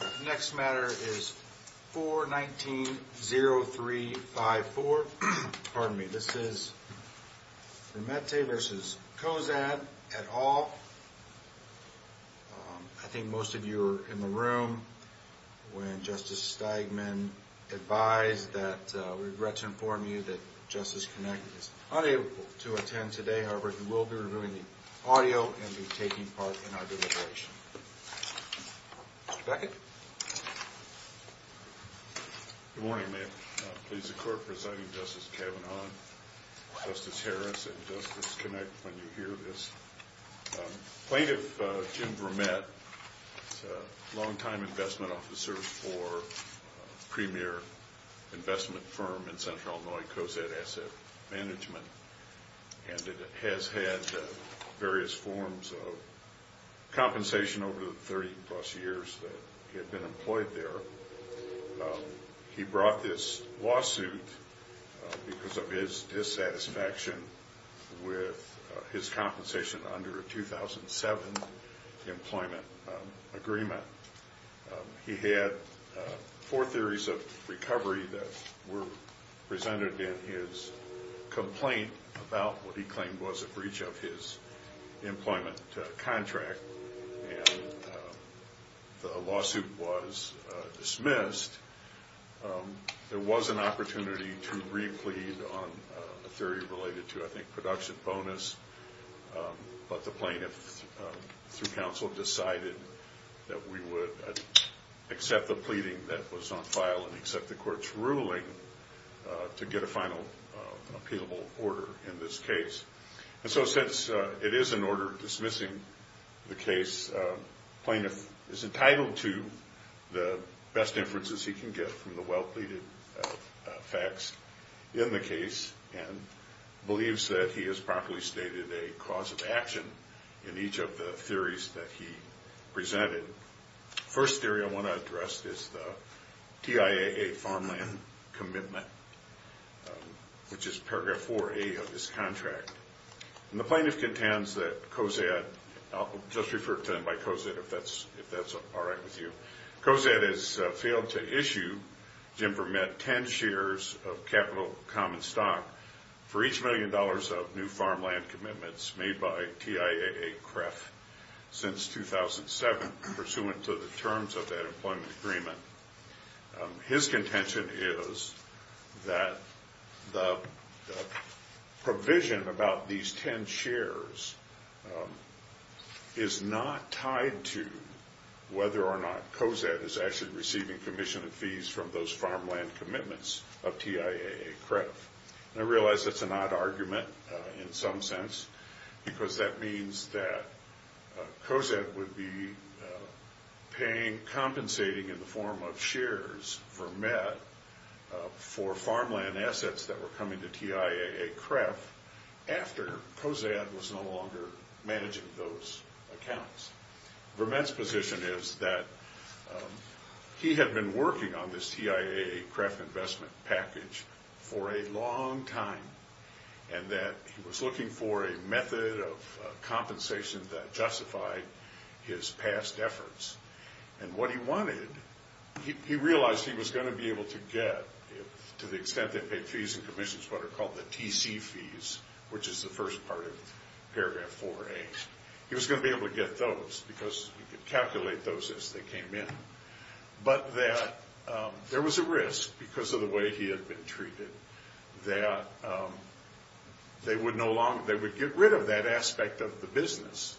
The next matter is 419-0354. Pardon me, this is Remette v. Cozad, et al. I think most of you were in the room when Justice Steigman advised that we regret to inform you that Justice Connick is unable to attend today. However, he will be reviewing the audio and be taking part in our deliberation. Mr. Beckett? Good morning, ma'am. I'm pleased to co-preside with Justice Kavanaugh, Justice Harris, and Justice Connick when you hear this. Plaintiff Jim Vermette is a long-time investment officer for a premier investment firm in Central Illinois, Cozad Asset Management. He has had various forms of compensation over the 30-plus years that he has been employed there. He brought this lawsuit because of his dissatisfaction with his compensation under a 2007 employment agreement. He had four theories of recovery that were presented in his complaint about what he claimed was a breach of his employment contract, and the lawsuit was dismissed. There was an opportunity to replead on a theory related to, I think, production bonus, but the plaintiff, through counsel, decided that we would accept the pleading that was on file and accept the court's ruling to get a final appealable order in this case. And so since it is an order dismissing the case, plaintiff is entitled to the best inferences he can get from the well-pleaded facts in the case and believes that he has properly stated a cause of action in each of the theories that he presented. The first theory I want to address is the TIAA farmland commitment, which is paragraph 4A of this contract. And the plaintiff contends that Cozad, I'll just refer to him by Cozad if that's all right with you, Cozad has failed to issue, Jim Vermitt, ten shares of capital common stock for each million dollars of new farmland commitments made by TIAA-CREF since 2007 pursuant to the terms of that employment agreement. His contention is that the provision about these ten shares is not tied to whether or not Cozad is actually receiving commission of fees from those farmland commitments of TIAA-CREF. And I realize that's an odd argument in some sense, because that means that Cozad would be compensating in the form of shares for Vermitt for farmland assets that were coming to TIAA-CREF after Cozad was no longer managing those accounts. Vermitt's position is that he had been working on this TIAA-CREF investment package for a long time and that he was looking for a method of compensation that justified his past efforts. And what he wanted, he realized he was going to be able to get, to the extent they paid fees and commissions, what are called the TC fees, which is the first part of paragraph 4A. He was going to be able to get those because he could calculate those as they came in. But that there was a risk because of the way he had been treated that they would get rid of that aspect of the business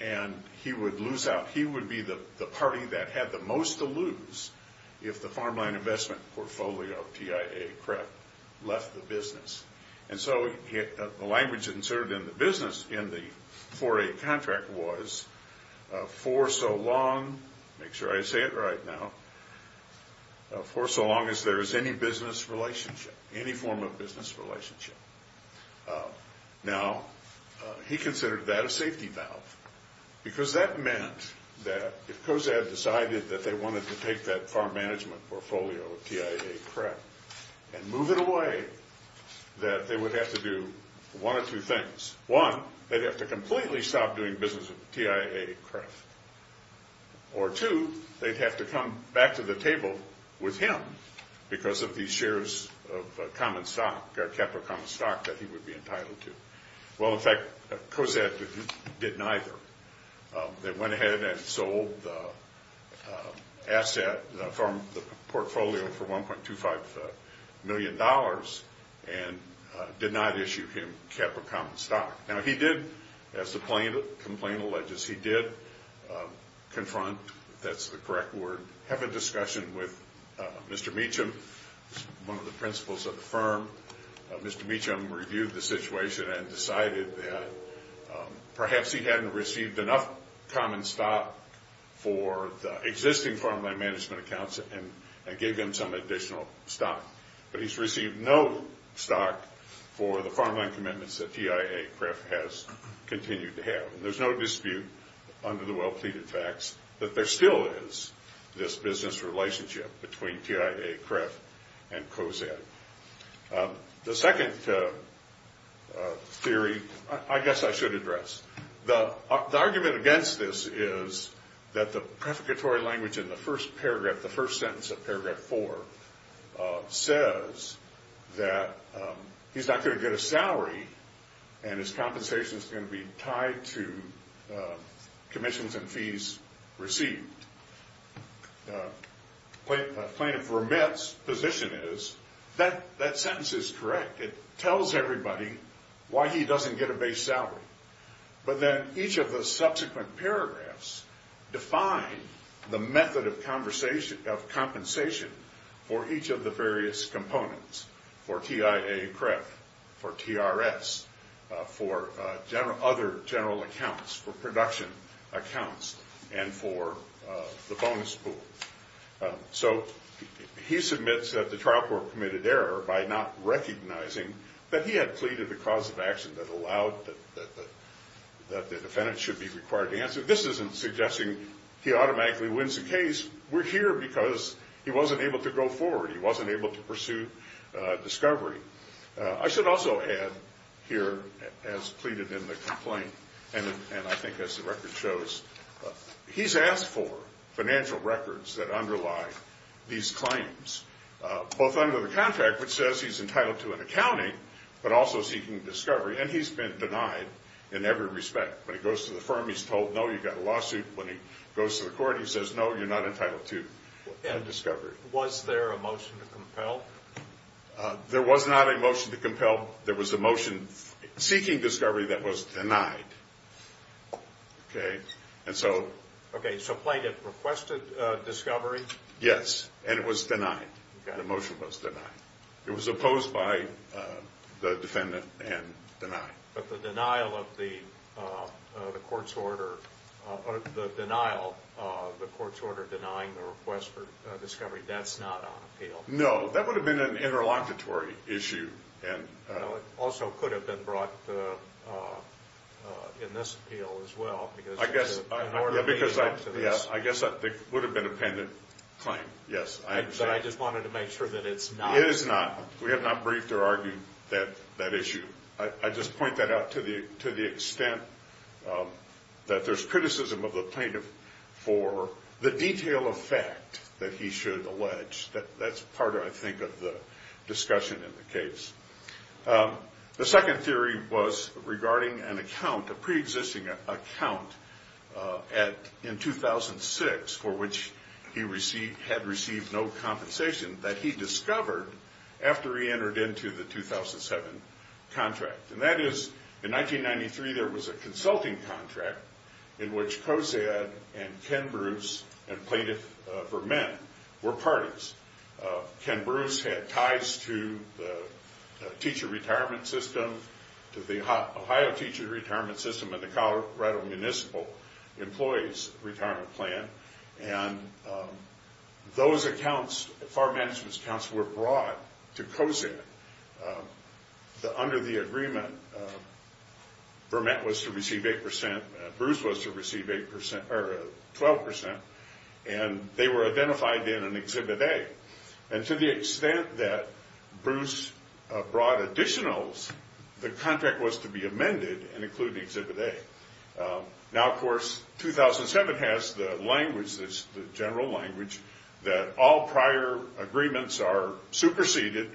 and he would lose out. He would be the party that had the most to lose if the farmland investment portfolio of TIAA-CREF left the business. And so the language inserted in the business in the 4A contract was, for so long, make sure I say it right now, for so long as there is any business relationship, any form of business relationship. Now, he considered that a safety valve because that meant that if Cozad decided that they wanted to take that farm management portfolio of TIAA-CREF and move it away, that they would have to do one of two things. One, they'd have to completely stop doing business with TIAA-CREF. Or two, they'd have to come back to the table with him because of these shares of common stock, capital common stock that he would be entitled to. Well, in fact, Cozad did neither. They went ahead and sold the asset from the portfolio for $1.25 million and did not issue him capital common stock. Now, he did, as the complaint alleges, he did confront, if that's the correct word, have a discussion with Mr. Meacham, one of the principals of the firm. Mr. Meacham reviewed the situation and decided that perhaps he hadn't received enough common stock for the existing farmland management accounts and gave him some additional stock. But he's received no stock for the farmland commitments that TIAA-CREF has continued to have. There's no dispute under the well-pleaded facts that there still is this business relationship between TIAA-CREF and Cozad. The second theory, I guess I should address. The argument against this is that the prefiguratory language in the first paragraph, the first sentence of paragraph four, says that he's not going to get a salary and his compensation is going to be tied to commissions and fees received. Plaintiff remit's position is that that sentence is correct. It tells everybody why he doesn't get a base salary. But then each of the subsequent paragraphs define the method of compensation for each of the various components, for TIAA-CREF, for TRS, for other general accounts, for production accounts, and for the bonus pool. So he submits that the trial court committed error by not recognizing that he had pleaded the cause of action that allowed that the defendant should be required to answer. This isn't suggesting he automatically wins the case. We're here because he wasn't able to go forward. He wasn't able to pursue discovery. I should also add here, as pleaded in the complaint, and I think as the record shows, he's asked for financial records that underlie these claims, both under the contract, which says he's entitled to an accounting, but also seeking discovery. And he's been denied in every respect. When he goes to the firm, he's told, no, you've got a lawsuit. When he goes to the court, he says, no, you're not entitled to discovery. Was there a motion to compel? There was not a motion to compel. There was a motion seeking discovery that was denied. Okay, so plaintiff requested discovery? Yes, and it was denied. The motion was denied. It was opposed by the defendant and denied. But the denial of the court's order denying the request for discovery, that's not on appeal? No, that would have been an interlocutory issue. It also could have been brought in this appeal as well. I guess I think it would have been a pendant claim. But I just wanted to make sure that it's not. It is not. We have not briefed or argued that issue. I just point that out to the extent that there's criticism of the plaintiff for the detail of fact that he should allege. That's part, I think, of the discussion in the case. The second theory was regarding an account, a preexisting account in 2006 for which he had received no compensation that he discovered after he entered into the 2007 contract. And that is in 1993 there was a consulting contract in which Kosad and Ken Bruce and Plaintiff Vermen were parties. Ken Bruce had ties to the teacher retirement system, to the Ohio teacher retirement system, and the Colorado Municipal Employees Retirement Plan. And those accounts, farm management's accounts, were brought to Kosad. Under the agreement, Vermen was to receive 8%. Bruce was to receive 12%. And they were identified in Exhibit A. And to the extent that Bruce brought additionals, the contract was to be amended and include Exhibit A. Now, of course, 2007 has the language, the general language, that all prior agreements are superseded.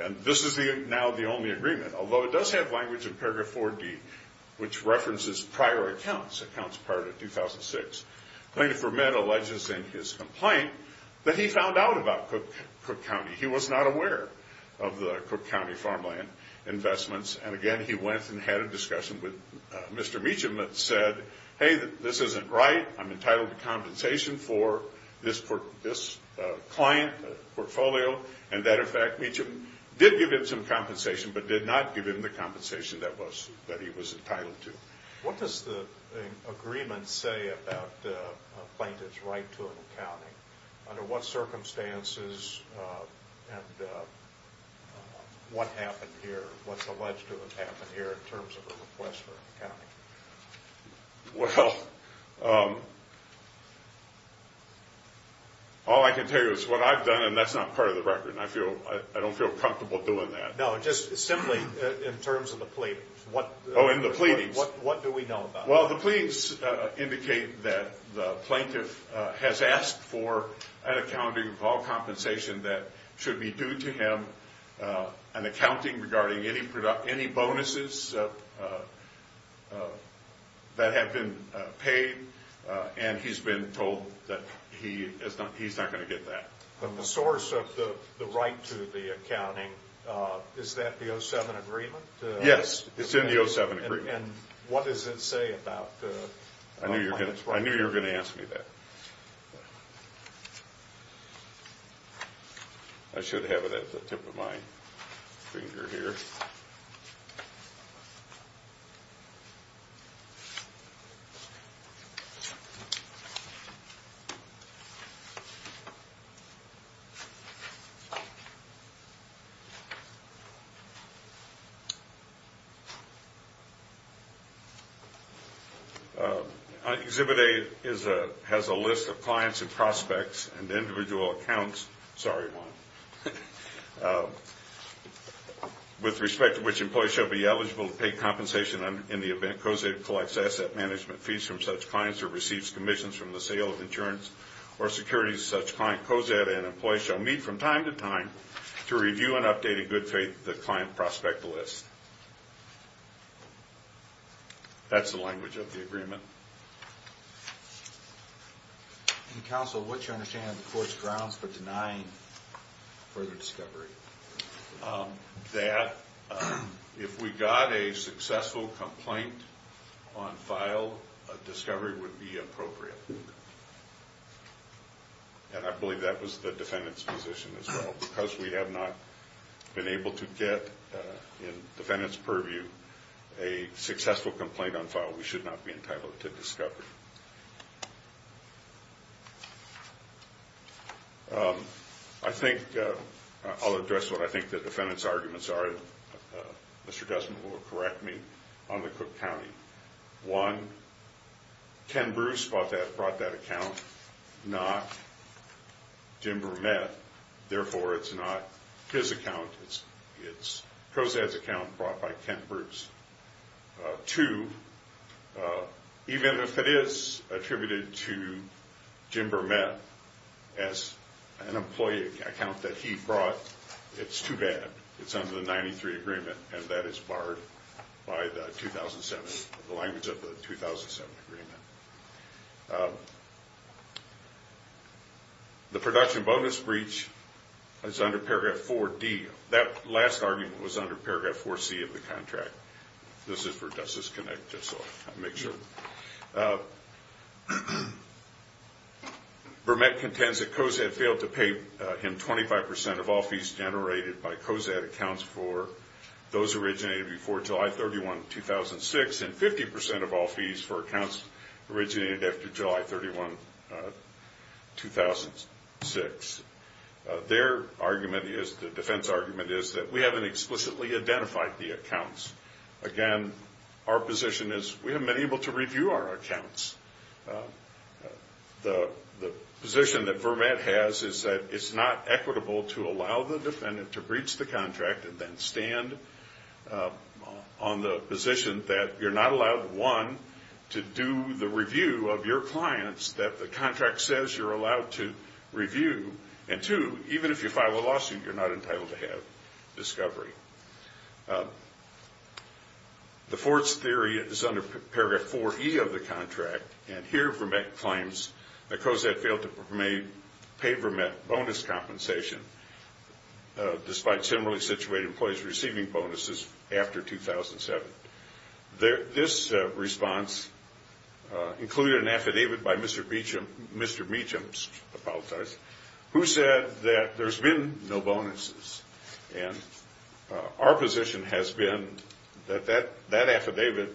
And this is now the only agreement. Although it does have language in Paragraph 4D which references prior accounts, accounts prior to 2006. Plaintiff Vermen alleges in his complaint that he found out about Cook County. He was not aware of the Cook County farmland investments. And, again, he went and had a discussion with Mr. Meacham and said, hey, this isn't right. I'm entitled to compensation for this client portfolio. And, as a matter of fact, Meacham did give him some compensation but did not give him the compensation that he was entitled to. What does the agreement say about a plaintiff's right to an accounting? Under what circumstances and what happened here? What's alleged to have happened here in terms of a request for an accounting? Well, all I can tell you is what I've done, and that's not part of the record, and I don't feel comfortable doing that. No, just simply in terms of the pleadings. Oh, in the pleadings. What do we know about that? Well, the pleadings indicate that the plaintiff has asked for an accounting of all compensation that should be due to him an accounting regarding any bonuses that have been paid, and he's been told that he's not going to get that. But the source of the right to the accounting, is that the 07 agreement? Yes, it's in the 07 agreement. And what does it say about the plaintiff's right? I knew you were going to ask me that. I should have it at the tip of my finger here. Exhibit A has a list of clients and prospects and individual accounts, with respect to which employees shall be eligible to pay compensation in the event COSAD collects asset management fees from such clients or receives commissions from the sale of insurance or securities to such clients. COSAD and employees shall meet from time to time to review and update in good faith the client prospect list. That's the language of the agreement. Counsel, what's your understanding of the court's grounds for denying further discovery? That if we got a successful complaint on file, a discovery would be appropriate. And I believe that was the defendant's position as well. Because we have not been able to get, in defendant's purview, a successful complaint on file, I think I'll address what I think the defendant's arguments are. Mr. Desmond will correct me on the Cook County. One, Ken Bruce brought that account, not Jim Bermette. Therefore, it's not his account. It's COSAD's account brought by Ken Bruce. Two, even if it is attributed to Jim Bermette as an employee account that he brought, it's too bad. It's under the 93 agreement, and that is barred by the 2007, the language of the 2007 agreement. The production bonus breach is under paragraph 4D. That last argument was under paragraph 4C of the contract. This is for Justice Connect, just so I make sure. Bermette contends that COSAD failed to pay him 25% of all fees generated by COSAD accounts for those originated before July 31, 2006, and 50% of all fees for accounts originated after July 31, 2006. Their argument is, the defense argument is, that we haven't explicitly identified the accounts. Again, our position is we haven't been able to review our accounts. The position that Bermette has is that it's not equitable to allow the defendant to breach the contract and then stand on the position that you're not allowed, one, to do the review of your clients, that the contract says you're allowed to review, and two, even if you file a lawsuit, you're not entitled to have discovery. The Ford's theory is under paragraph 4E of the contract, and here Bermette claims that COSAD failed to pay Bermette bonus compensation, despite similarly situated employees receiving bonuses after 2007. This response included an affidavit by Mr. Meacham who said that there's been no bonuses, and our position has been that that affidavit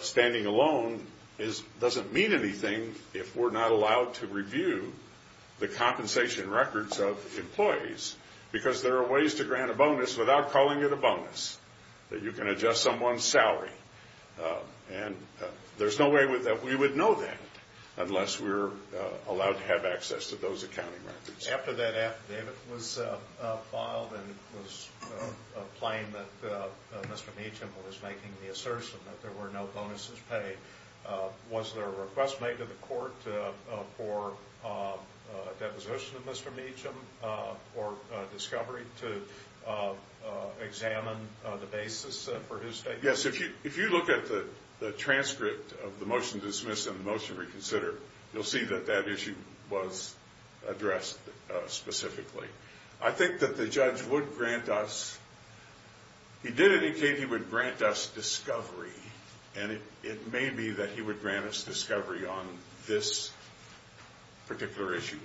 standing alone doesn't mean anything if we're not allowed to review the compensation records of employees because there are ways to grant a bonus without calling it a bonus, that you can adjust someone's salary, and there's no way that we would know that unless we're allowed to have access to those accounting records. After that affidavit was filed and it was plain that Mr. Meacham was making the assertion that there were no bonuses paid, was there a request made to the court for a deposition of Mr. Meacham for discovery to examine the basis for his statement? Yes, if you look at the transcript of the motion to dismiss and the motion to reconsider, you'll see that that issue was addressed specifically. I think that the judge would grant us, he did it in case he would grant us discovery, and it may be that he would grant us discovery on this particular issue.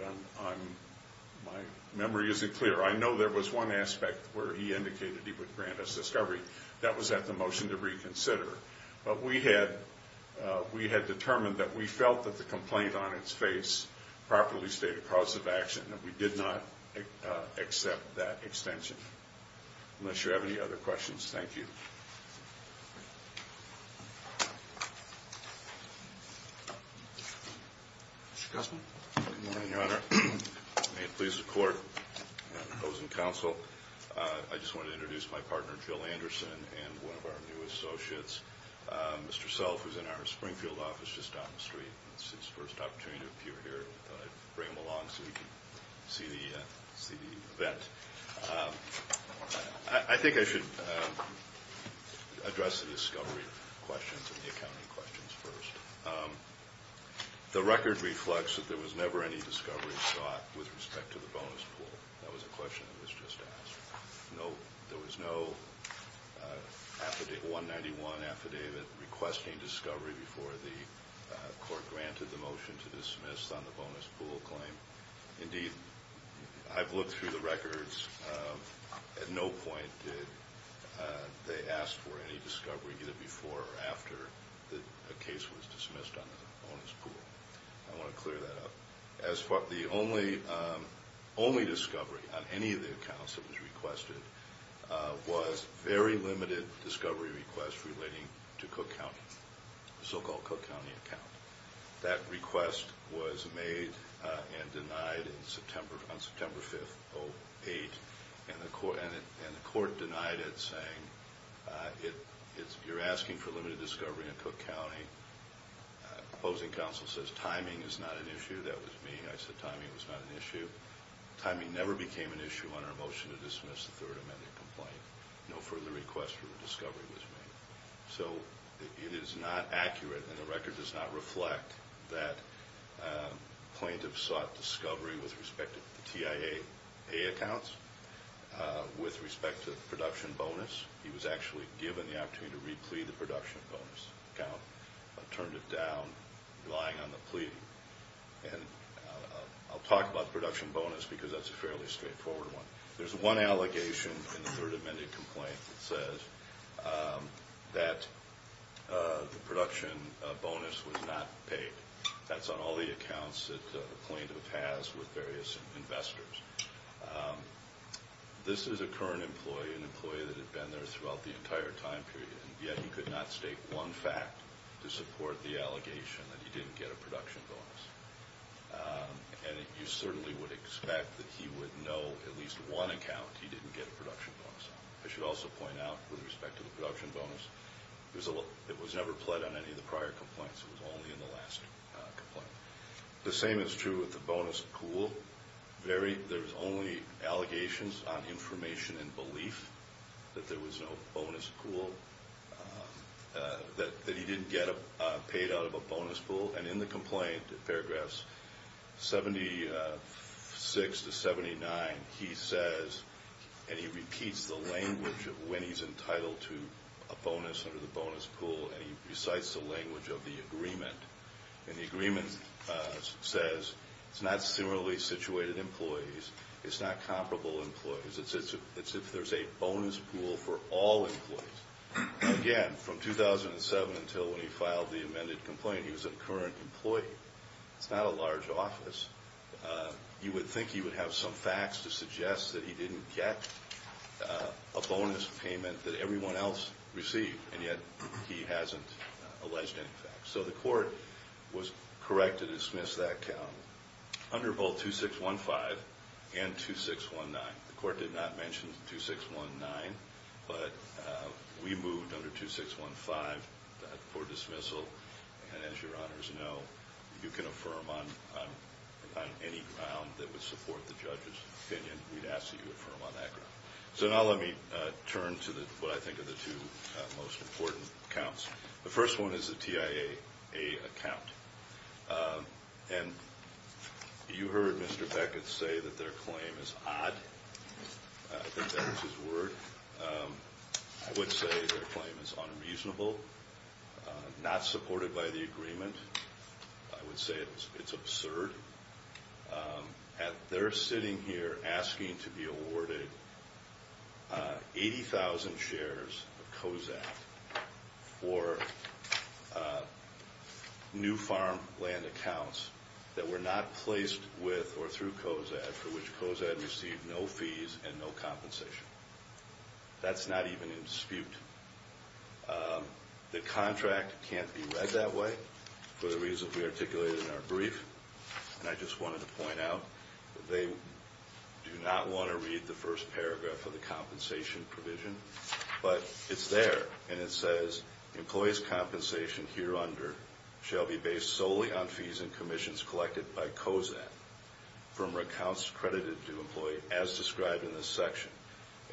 My memory isn't clear. I know there was one aspect where he indicated he would grant us discovery. That was at the motion to reconsider, but we had determined that we felt that the complaint on its face properly stated cause of action, and we did not accept that extension. I'm not sure I have any other questions. Thank you. Mr. Guzman. Good morning, Your Honor. May it please the Court and those in counsel, I just want to introduce my partner, Jill Anderson, and one of our new associates, Mr. Self, who's in our Springfield office just down the street. It's his first opportunity to appear here. I thought I'd bring him along so he could see the event. I think I should address the discovery questions and the accounting questions first. The record reflects that there was never any discovery sought with respect to the bonus pool. That was a question that was just asked. There was no 191 affidavit requesting discovery before the Court granted the motion to dismiss on the bonus pool claim. Indeed, I've looked through the records. At no point did they ask for any discovery either before or after a case was dismissed on the bonus pool. I want to clear that up. The only discovery on any of the accounts that was requested was a very limited discovery request relating to Cook County, the so-called Cook County account. That request was made and denied on September 5th, 2008, and the Court denied it, saying you're asking for limited discovery in Cook County. The opposing counsel says timing is not an issue. That was me. I said timing was not an issue. Timing never became an issue on our motion to dismiss the Third Amendment complaint. No further request for discovery was made. So it is not accurate, and the record does not reflect, that plaintiffs sought discovery with respect to the TIA accounts. With respect to the production bonus, he was actually given the opportunity to re-plea the production bonus account, but turned it down, relying on the plea. And I'll talk about the production bonus because that's a fairly straightforward one. There's one allegation in the Third Amendment complaint that says that the production bonus was not paid. That's on all the accounts that a plaintiff has with various investors. This is a current employee, an employee that had been there throughout the entire time period, and yet he could not state one fact to support the allegation that he didn't get a production bonus. And you certainly would expect that he would know at least one account he didn't get a production bonus on. I should also point out, with respect to the production bonus, it was never pled on any of the prior complaints. It was only in the last complaint. The same is true with the bonus pool. There's only allegations on information and belief that there was no bonus pool, that he didn't get paid out of a bonus pool. And in the complaint, paragraphs 76 to 79, he says, and he repeats the language of when he's entitled to a bonus under the bonus pool, and he recites the language of the agreement. And the agreement says it's not similarly situated employees. It's not comparable employees. It's if there's a bonus pool for all employees. Again, from 2007 until when he filed the amended complaint, he was a current employee. It's not a large office. You would think he would have some facts to suggest that he didn't get a bonus payment that everyone else received, and yet he hasn't alleged any facts. So the court was correct to dismiss that count under both 2615 and 2619. The court did not mention 2619, but we moved under 2615 for dismissal. And as your honors know, you can affirm on any ground that would support the judge's opinion. We'd ask that you affirm on that ground. So now let me turn to what I think are the two most important counts. The first one is the TIAA account. And you heard Mr. Beckett say that their claim is odd. I think that was his word. I would say their claim is unreasonable, not supported by the agreement. I would say it's absurd. They're sitting here asking to be awarded 80,000 shares of COZAD for new farmland accounts that were not placed with or through COZAD, for which COZAD received no fees and no compensation. That's not even in dispute. The contract can't be read that way for the reasons we articulated in our brief. And I just wanted to point out that they do not want to read the first paragraph of the compensation provision. But it's there, and it says, Employees' compensation hereunder shall be based solely on fees and commissions collected by COZAD from accounts credited to employees as described in this section.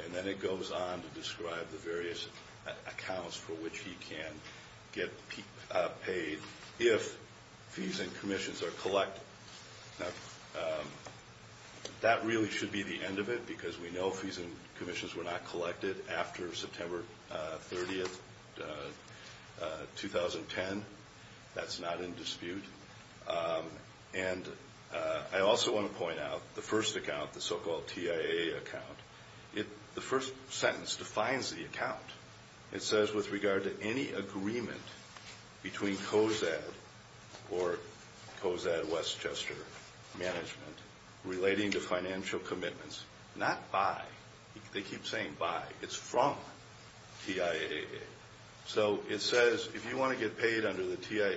And then it goes on to describe the various accounts for which he can get paid if fees and commissions are collected. Now, that really should be the end of it, because we know fees and commissions were not collected after September 30, 2010. That's not in dispute. And I also want to point out the first account, the so-called TIA account. The first sentence defines the account. It says, With regard to any agreement between COZAD or COZAD Westchester Management relating to financial commitments, not by. They keep saying by. It's from TIA. So it says if you want to get paid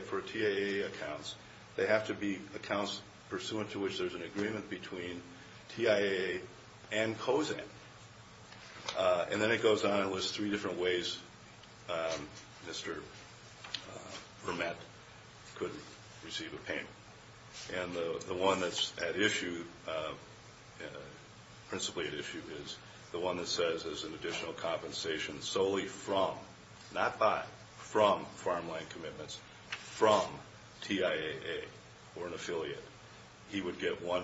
for TIA accounts, they have to be accounts pursuant to which there's an agreement between TIA and COZAD. And then it goes on and lists three different ways Mr. Vermette could receive a payment. And the one that's at issue, principally at issue, is the one that says there's an additional compensation solely from, not by, from Farmland Commitments, from TIAA or an affiliate. He would get 10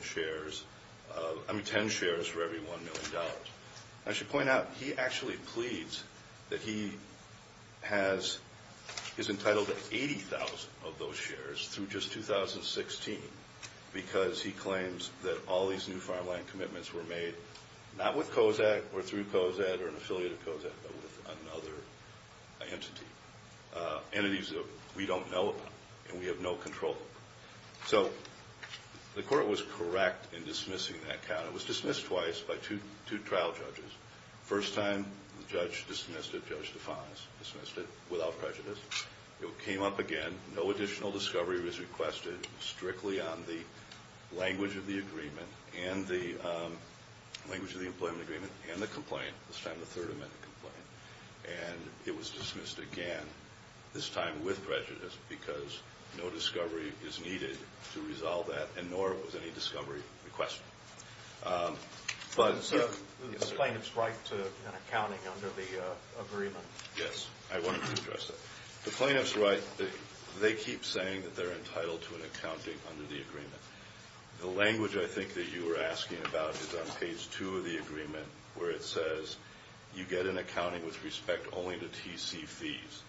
shares for every $1 million. I should point out he actually pleads that he is entitled to 80,000 of those shares through just 2016, because he claims that all these new Farmland Commitments were made not with COZAD or through COZAD or an affiliate of COZAD, but with another entity, entities that we don't know about and we have no control over. So the court was correct in dismissing that account. It was dismissed twice by two trial judges. The first time the judge dismissed it, Judge Defans dismissed it without prejudice. It came up again. No additional discovery was requested strictly on the language of the agreement and the language of the employment agreement and the complaint, this time the Third Amendment complaint. And it was dismissed again, this time with prejudice, because no discovery is needed to resolve that and nor was any discovery requested. So the plaintiff's right to an accounting under the agreement. Yes, I wanted to address that. The plaintiff's right. They keep saying that they're entitled to an accounting under the agreement. The language, I think, that you were asking about is on page 2 of the agreement, where it says you get an accounting with respect only to TC fees.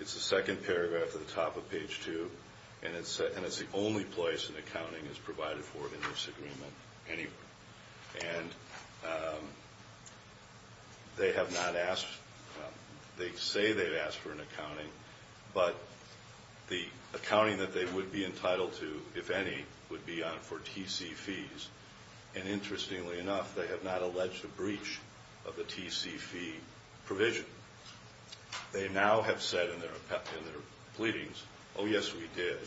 It's the second paragraph at the top of page 2, and it's the only place an accounting is provided for in this agreement anywhere. And they have not asked, they say they've asked for an accounting, but the accounting that they would be entitled to, if any, would be for TC fees. And interestingly enough, they have not alleged a breach of the TC fee provision. They now have said in their pleadings, oh, yes, we did.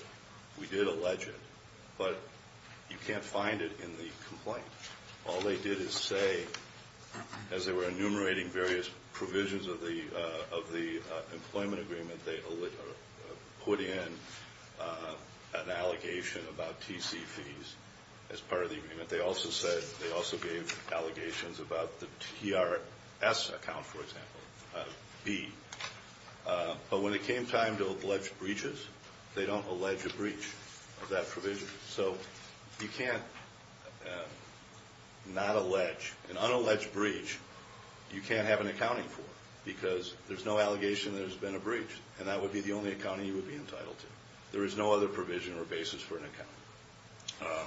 But you can't find it in the complaint. All they did is say, as they were enumerating various provisions of the employment agreement, they put in an allegation about TC fees as part of the agreement. They also said they also gave allegations about the TRS account, for example, B. But when it came time to allege breaches, they don't allege a breach of that provision. So you can't not allege an unalleged breach you can't have an accounting for, because there's no allegation there's been a breach, and that would be the only accounting you would be entitled to. There is no other provision or basis for an accounting.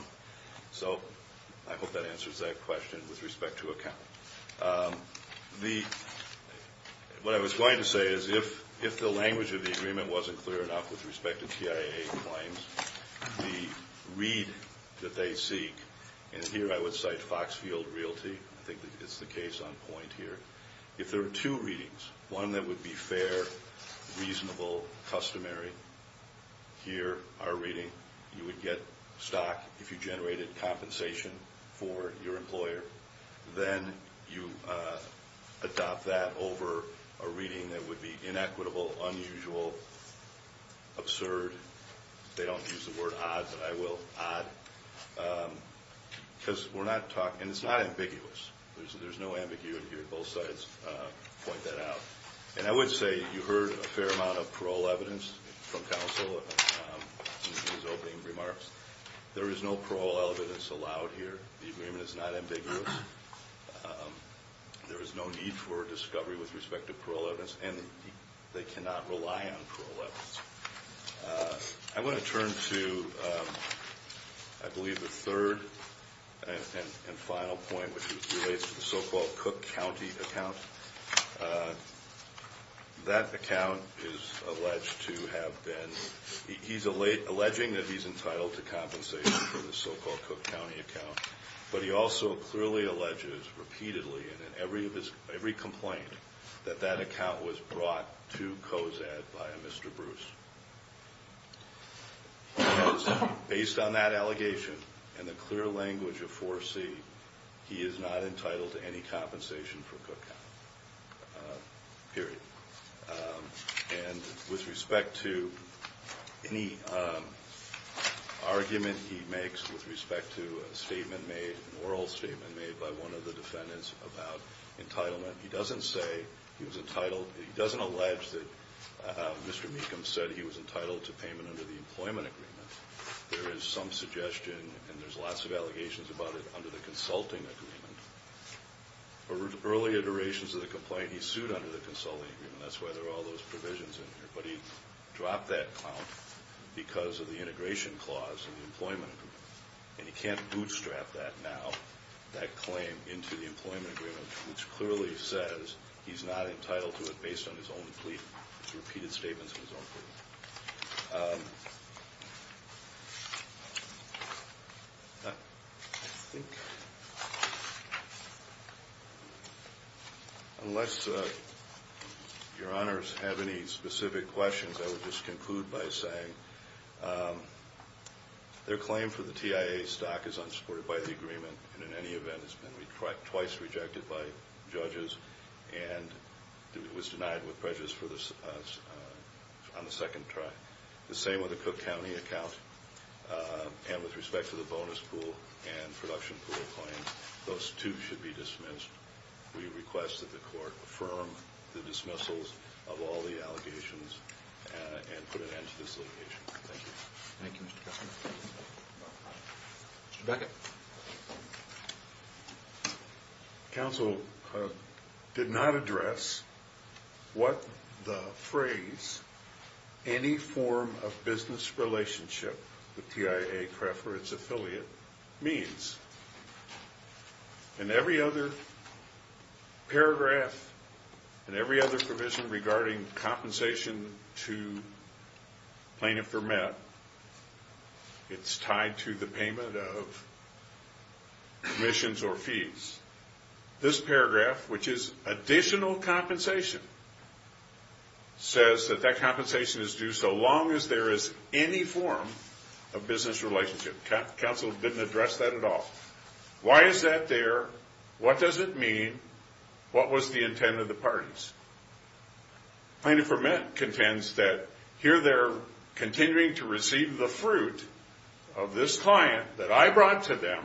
So I hope that answers that question with respect to accounting. What I was going to say is if the language of the agreement wasn't clear enough with respect to TIA claims, the read that they seek, and here I would cite Foxfield Realty. I think it's the case on point here. If there were two readings, one that would be fair, reasonable, customary, here, our reading, you would get stock if you generated compensation for your employer. Then you adopt that over a reading that would be inequitable, unusual, absurd. They don't use the word odd, but I will. Odd, because we're not talking, and it's not ambiguous. There's no ambiguity here. Both sides point that out. And I would say you heard a fair amount of parole evidence from counsel in his opening remarks. There is no parole evidence allowed here. The agreement is not ambiguous. There is no need for discovery with respect to parole evidence, and they cannot rely on parole evidence. I want to turn to, I believe, the third and final point, which relates to the so-called Cook County account. That account is alleged to have been, he's alleging that he's entitled to compensation for the so-called Cook County account, but he also clearly alleges repeatedly and in every complaint that that account was brought to COZAD by a Mr. Bruce. Based on that allegation and the clear language of 4C, he is not entitled to any compensation for Cook County, period. And with respect to any argument he makes with respect to a statement made, an oral statement made by one of the defendants about entitlement, he doesn't say he was entitled, he doesn't allege that Mr. Mecham said he was entitled to payment under the employment agreement. There is some suggestion, and there's lots of allegations about it, under the consulting agreement. Early iterations of the complaint, he sued under the consulting agreement. That's why there are all those provisions in here. But he dropped that count because of the integration clause in the employment agreement. And he can't bootstrap that now, that claim into the employment agreement, which clearly says he's not entitled to it based on his own plea, his repeated statements of his own plea. Unless your honors have any specific questions, I would just conclude by saying their claim for the TIA stock is unsupported by the agreement, and in any event has been twice rejected by judges and was denied with prejudice on the second try. The same with the Cook County account. And with respect to the bonus pool and production pool claims, those too should be dismissed. We request that the court affirm the dismissals of all the allegations and put an end to this litigation. Thank you. Thank you, Mr. Cuffman. Mr. Beckett. Counsel did not address what the phrase, any form of business relationship with TIA Craft for its affiliate, means. In every other paragraph and every other provision regarding compensation to plaintiff or met, it's tied to the payment of commissions or fees. This paragraph, which is additional compensation, says that that compensation is due so long as there is any form of business relationship. Counsel didn't address that at all. Why is that there? What does it mean? What was the intent of the parties? Plaintiff or met contends that here they're continuing to receive the fruit of this client that I brought to them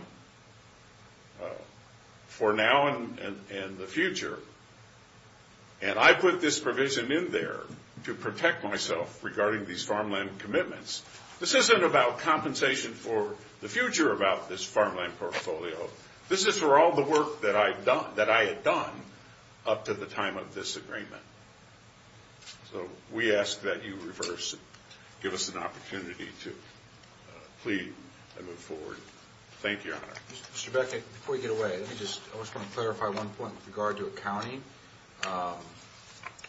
for now and the future, and I put this provision in there to protect myself regarding these farmland commitments. This isn't about compensation for the future about this farmland portfolio. This is for all the work that I had done up to the time of this agreement. So we ask that you reverse and give us an opportunity to plead and move forward. Thank you, Your Honor. Mr. Beckett, before you get away, I just want to clarify one point with regard to accounting.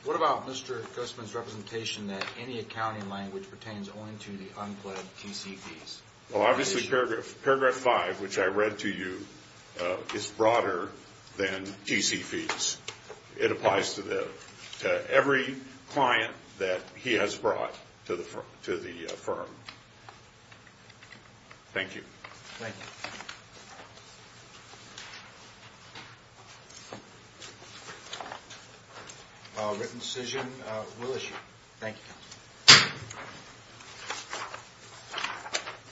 What about Mr. Cuffman's representation that any accounting language pertains only to the unpledged TCPs? Well, obviously paragraph five, which I read to you, is broader than TCPs. It applies to every client that he has brought to the firm. Thank you. Thank you. A written decision will issue. Thank you.